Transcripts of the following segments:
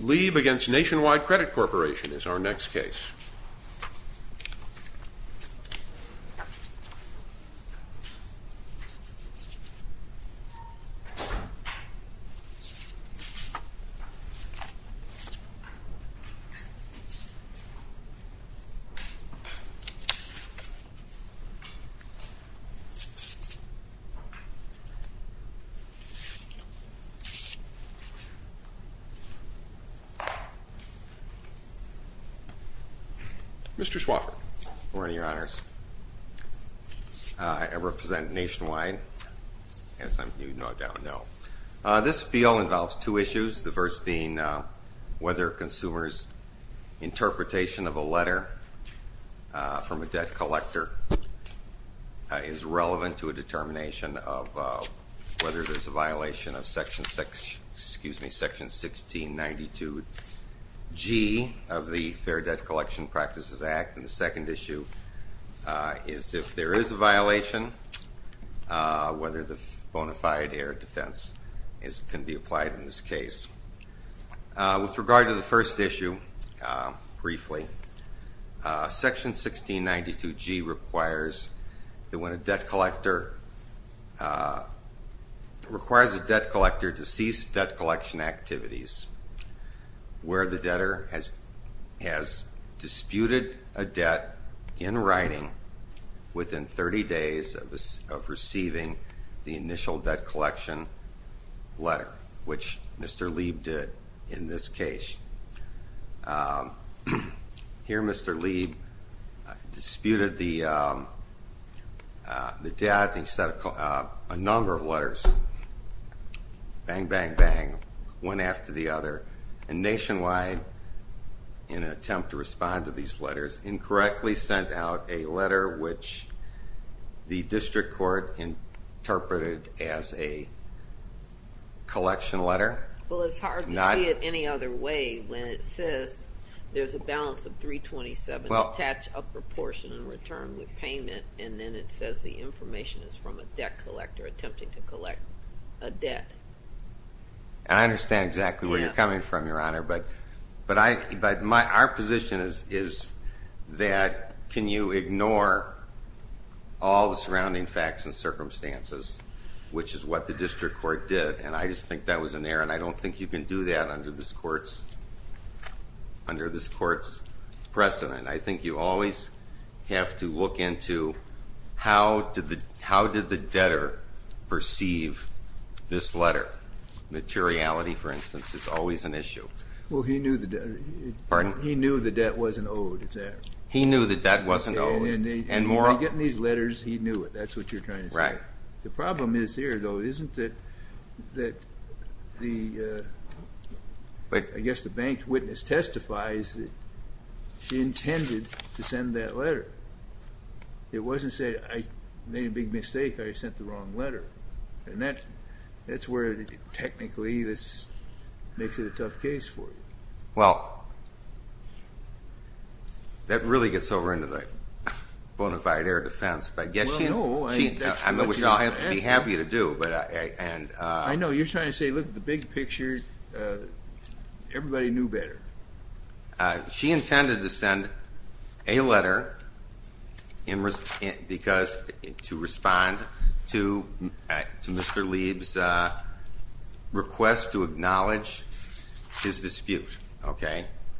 Leeb v. Nationwide Credit Corporation is our next case. Mr. Schwaffer. Good morning, Your Honors. I represent Nationwide. As you no doubt know. This appeal involves two issues, the first being whether consumers' interpretation of a letter from a debt collector is relevant to a determination of whether there's a violation of Section 1692G of the Fair Debt Collection Practices Act. And the second issue is if there is a violation, whether the bona fide air defense can be applied in this case. With regard to the first issue, briefly, Section 1692G requires that when a debt collector requires a debt collector to cease debt collection activities where the debtor has disputed a debt in writing within 30 days of receiving the initial debt collection letter, which Mr. Leeb did in this case. Here Mr. Leeb disputed a number of letters. Bang, bang, bang. One after the other. And Nationwide in an attempt to respond to these letters, incorrectly sent out a letter which the District Court interpreted as a letter from a debt collector attempting to collect a debt. And I understand exactly where you're coming from, Your Honor. But our position is that can you ignore all the surrounding facts and circumstances, which is what the District Court did. And I just think that was an error. And I don't think you can do that under this court's precedent. I think you always have to look into how did the debtor perceive this letter. Materiality, for instance, is always an issue. Well, he knew the debt wasn't owed, is that right? He knew the debt wasn't owed. And when he was getting these letters, he knew it. That's what you're trying to say. Right. The problem is here, though, isn't that the I guess the bank witness testifies that she intended to send that letter. It wasn't say I made a big mistake or I sent the wrong letter. And that's where technically this makes it a tough case for you. Well, that really gets over into the bona fide air defense, but I guess she would be happy to do. I know you're trying to say look at the big picture. Everybody knew better. She intended to send a letter because to respond to Mr. Lieb's request to acknowledge his dispute.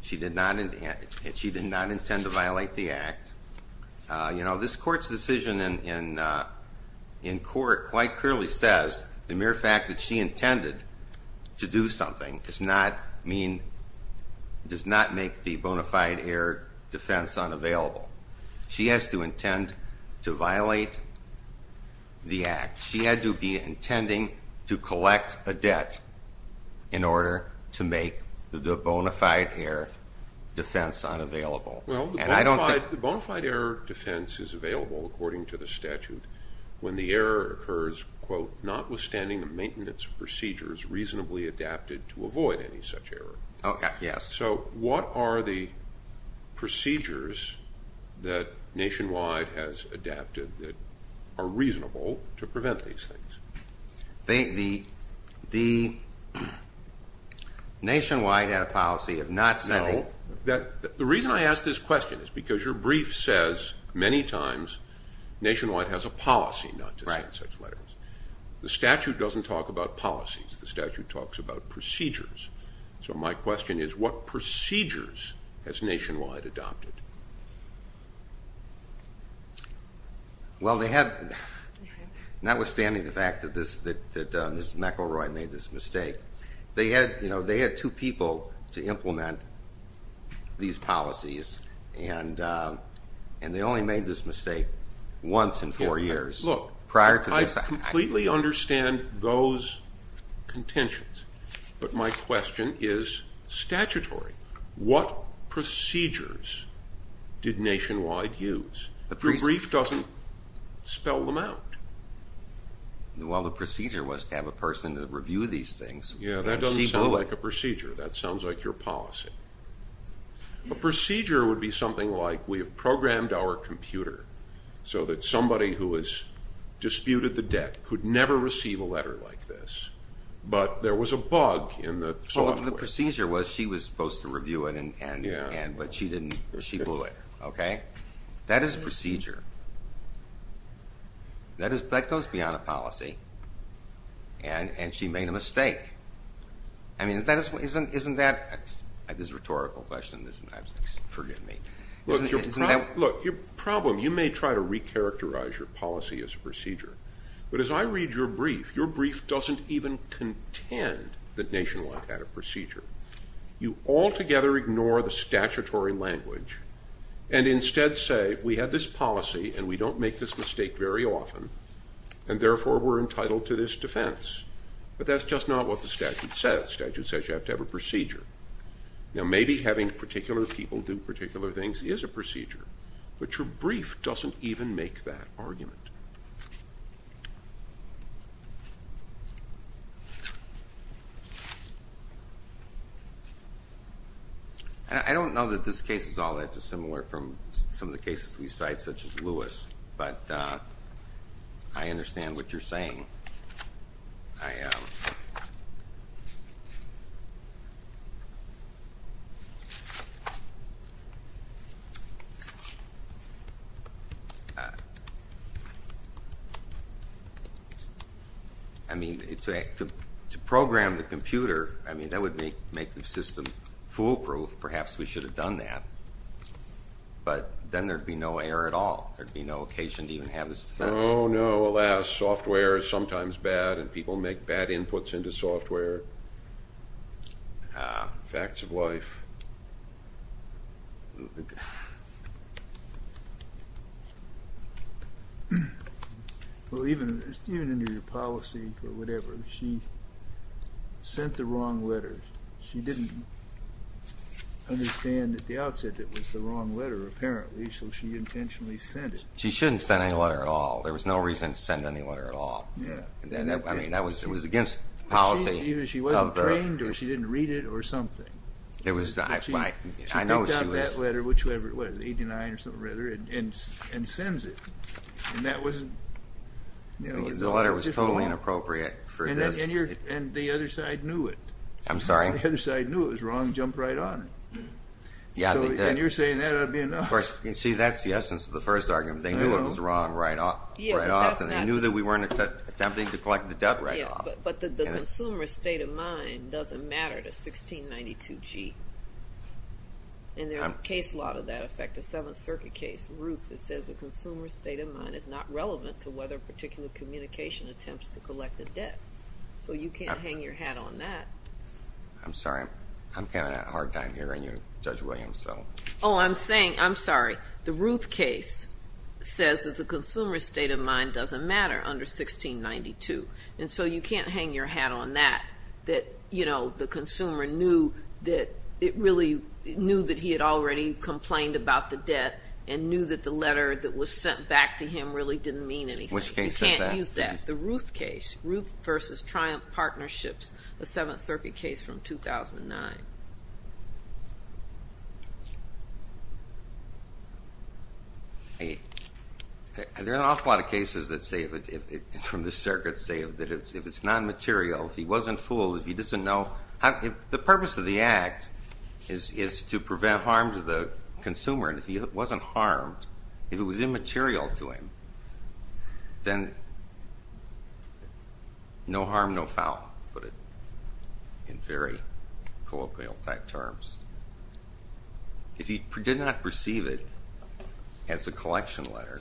She did not intend to violate the act. This court's decision in court quite clearly says the mere fact that she intended to do something does not make the bona fide air defense unavailable. She has to intend to violate the to make the bona fide air defense unavailable. The bona fide air defense is available according to the statute when the error occurs, quote, notwithstanding the maintenance procedures reasonably adapted to avoid any such error. So what are the procedures that Nationwide has adapted that are reasonable to Nationwide had a policy of not sending. The reason I ask this question is because your brief says many times Nationwide has a policy not to send such letters. The statute doesn't talk about policies. The statute talks about procedures. So my question is what procedures has Nationwide adopted? Well, they have, notwithstanding the fact that Ms. McElroy made this mistake, they had two people to implement these policies and they only made this mistake once in four years. Look, I completely understand those contentions, but my question is statutory. What procedures did Nationwide use? Your brief doesn't spell them out. Well, the procedure was to have a person to review these things. Yeah, that doesn't sound like a procedure. That sounds like your policy. A procedure would be something like we have programmed our computer so that somebody who has disputed the debt could never receive a letter like this, but there was a bug in the software. Well, the procedure was she was supposed to review it, but she didn't. She bullied her. That is a procedure. That goes beyond a policy. And she made a mistake. Isn't that a rhetorical question? Forgive me. Look, your problem, you may try to recharacterize your policy as a procedure, but as I read your brief, your brief doesn't even contend that Nationwide had a procedure. You altogether ignore the statutory language and instead say we have this policy and we don't make this mistake very often and therefore we're entitled to this defense. But that's just not what the statute says. The statute says you have to have a procedure. Now maybe having particular people do particular things is a procedure, but your brief doesn't even make that argument. I don't know that this case is all that dissimilar from some of the cases we cite, such as Lewis, but I understand what you're saying. To program the computer, that would make the system foolproof. Perhaps we should have done that, but then there would be no error at all. There would be no occasion to even have this defense. Oh no, alas, software is sometimes bad and people make bad inputs into software. Facts of life. Even in your policy or whatever, she sent the wrong letters. She didn't understand at the outset that it was the wrong letter, apparently, so she intentionally sent it. She shouldn't send any letter at all. There was no reason to send any letter at all. She wasn't trained or she didn't read it or something. She picked out that letter and sends it. The letter was totally inappropriate for this. And the other side knew it was wrong and jumped right on it. See, that's the essence of the first argument. They knew it was wrong right off and they knew that we weren't attempting to collect the debt right off. But the consumer's state of mind doesn't matter to 1692G. And there's a case law to that effect, a Seventh Circuit case. It says the consumer's state of mind is not relevant to whether a particular communication attempts to collect the debt. So you can't hang your hat on that. I'm sorry. I'm having a hard time hearing you, Judge Williams. Oh, I'm sorry. The Ruth case says that the consumer's state of mind doesn't matter under 1692. And so you can't hang your hat on that, that, you know, the consumer knew that he had already complained about the debt and knew that the letter that was sent back to him really didn't mean anything. You can't use that. The Ruth case, Ruth versus Triumph Partnerships, a Seventh Circuit case from 2009. There are an awful lot of cases that say, from the circuit, say that if it's non-material, if he wasn't fooled, if he doesn't know, the purpose of the act is to prevent harm to the consumer. And if he wasn't harmed, if it was immaterial to him, then no harm, no foul, to put it in very colloquial type terms. If he did not receive it as a collection letter,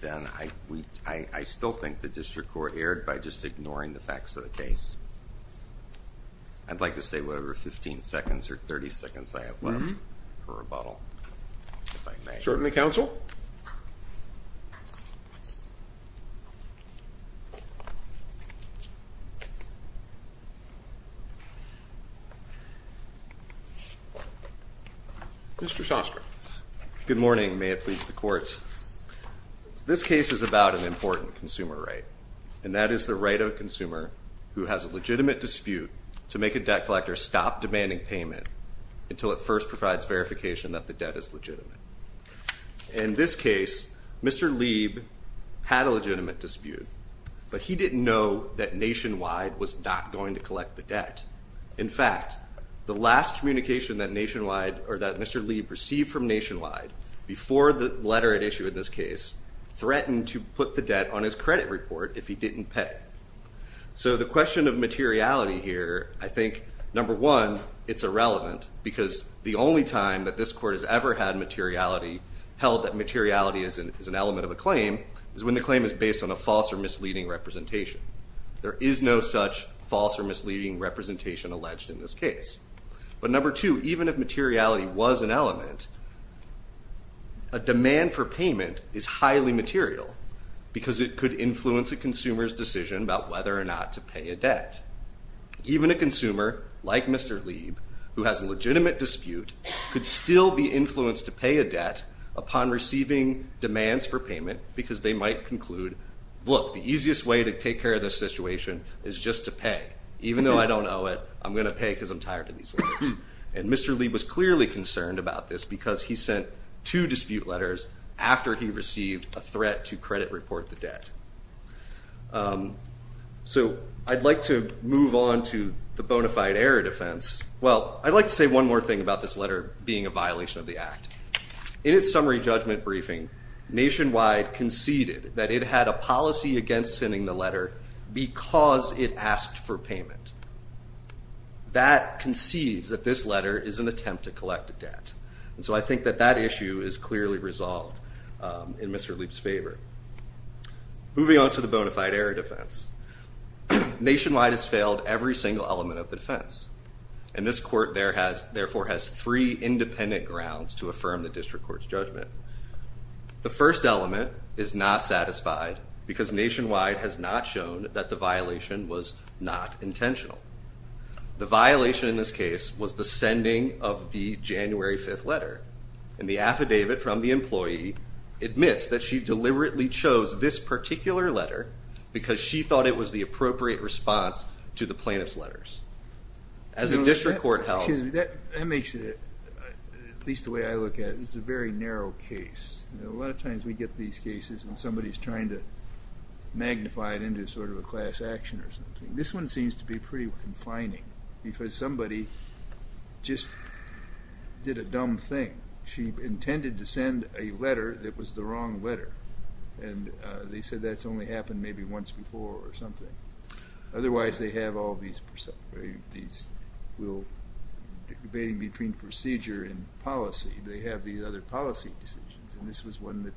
then I still think the district court erred by just ignoring the facts of the case. I'd like to say whatever 15 seconds or 30 seconds I have left for rebuttal, if I may. Certainly, counsel. Mr. Shostrak. Good morning. May it please the courts. This case is about an important consumer right, and that is the right of a consumer who has a legitimate dispute to make a debt collector stop demanding payment until it first provides verification that the debt is legitimate. In this case, Mr. Lieb had a legitimate dispute, but he didn't know that Nationwide was not going to collect the debt. In fact, the last communication that Mr. Lieb received from Nationwide before the letter it issued in this case threatened to put the debt on his credit report if he didn't pay. So the question of materiality here, I think, number one, it's irrelevant because the only time that this court has ever had materiality held that materiality is an element of a claim is when the claim is based on a false or misleading representation. There is no such false or misleading representation of a claim as an element. A demand for payment is highly material because it could influence a consumer's decision about whether or not to pay a debt. Even a consumer like Mr. Lieb, who has a legitimate dispute, could still be influenced to pay a debt upon receiving demands for payment because they might conclude, look, the easiest way to take care of this situation is just to pay. Even though I don't owe it, I'm going to pay because I'm tired of these loans. And Mr. Lieb was clearly concerned about this because he sent two dispute letters after he received a threat to credit report the debt. So I'd like to move on to the bona fide error defense. Well, I'd like to say one more thing about this letter being a violation of the Act. In its summary judgment briefing, Nationwide conceded that it had a policy against sending the letter because it asked for payment. That concedes that this letter is an attempt to collect a debt. And so I think that that issue is clearly resolved in Mr. Lieb's favor. Moving on to the bona fide error defense, Nationwide has failed every single element of the defense. And this court therefore has three independent grounds to affirm the district court's judgment. The first element is not satisfied because Nationwide has not shown that the violation was not intentional. The violation in this case was the sending of the January 5th letter. And the affidavit from the employee admits that she deliberately chose this particular letter because she thought it was the appropriate response to the plaintiff's That makes it, at least the way I look at it, it's a very narrow case. A lot of times we get these cases and somebody's trying to magnify it into sort of a class action or something. This one seems to be pretty confining because somebody just did a dumb thing. She intended to send a letter that was the wrong letter. And they said that's only happened maybe once before or something. Otherwise they have all these, debating between procedure and policy, they have these other policy decisions. And this was one that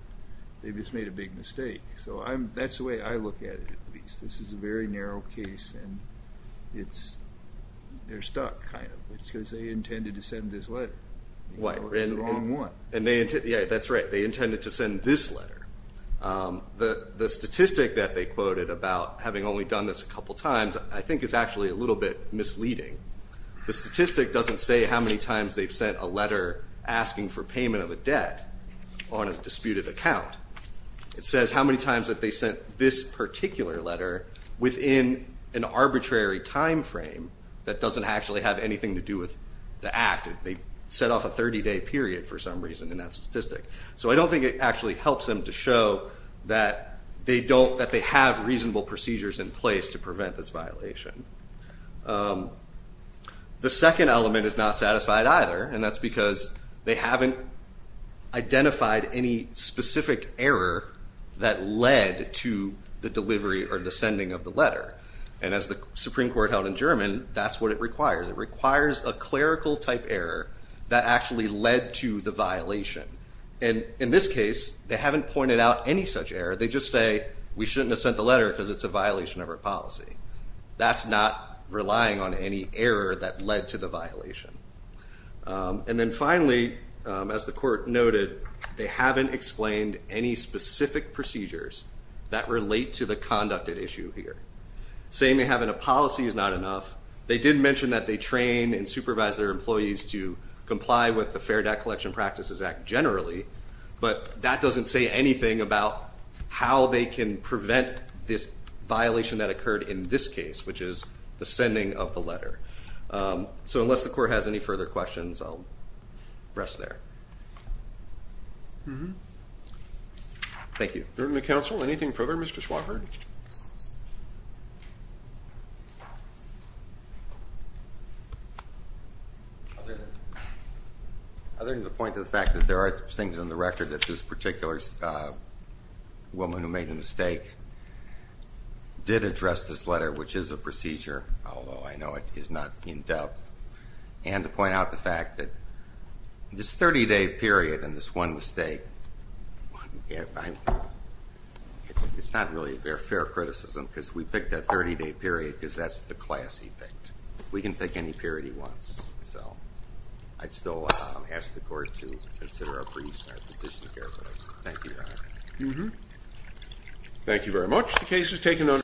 they just made a big mistake. So that's the way I look at it at least. This is a very narrow case and they're stuck kind of. It's because they intended to send this letter. The wrong one. Yeah, that's right. They intended to send this letter. The statistic that they quoted about having only done this a couple times I think is actually a little bit misleading. The statistic doesn't say how many times they've sent a letter asking for payment of a debt on a disputed account. It says how many times that they sent this particular letter within an arbitrary time frame that doesn't actually have anything to do with the act. They set off a 30 day period for some reason in that statistic. So I don't think it actually helps them to show that they have reasonable procedures in place to prevent this violation. The second element is not satisfied either. And that's because they haven't identified any specific error that led to the delivery or the sending of the letter. And as the Supreme Court held in German, that's what it requires. It requires a clerical type error that actually led to the violation. And in this case they haven't pointed out any such error. They just say we shouldn't have sent the letter because it's a violation of our policy. That's not relying on any error that led to the violation. And then finally, as the court noted, they haven't explained any specific procedures that relate to the conducted issue here. Saying they have a policy is not enough. They did mention that they train and supervise their employees to comply with the Fair Debt Collection Practices Act generally, but that doesn't say anything about how they can prevent this violation that occurred in this case, which is the sending of the letter. So unless the court has any further questions, I'll rest there. Thank you. Members of the Council, anything further? Mr. Swafford? Other than the point of the fact that there are things in the record that this particular woman who made the mistake did address this letter, which is a procedure, although I know it is not in-depth, and to point out the fact that this 30-day period and this one mistake, it's not really a fair criticism because we picked that 30-day period because that's the class he picked. We can pick any period he wants. I'd still ask the court to consider our briefs and our position of care, but thank you, Your Honor. Thank you very much. The case is taken under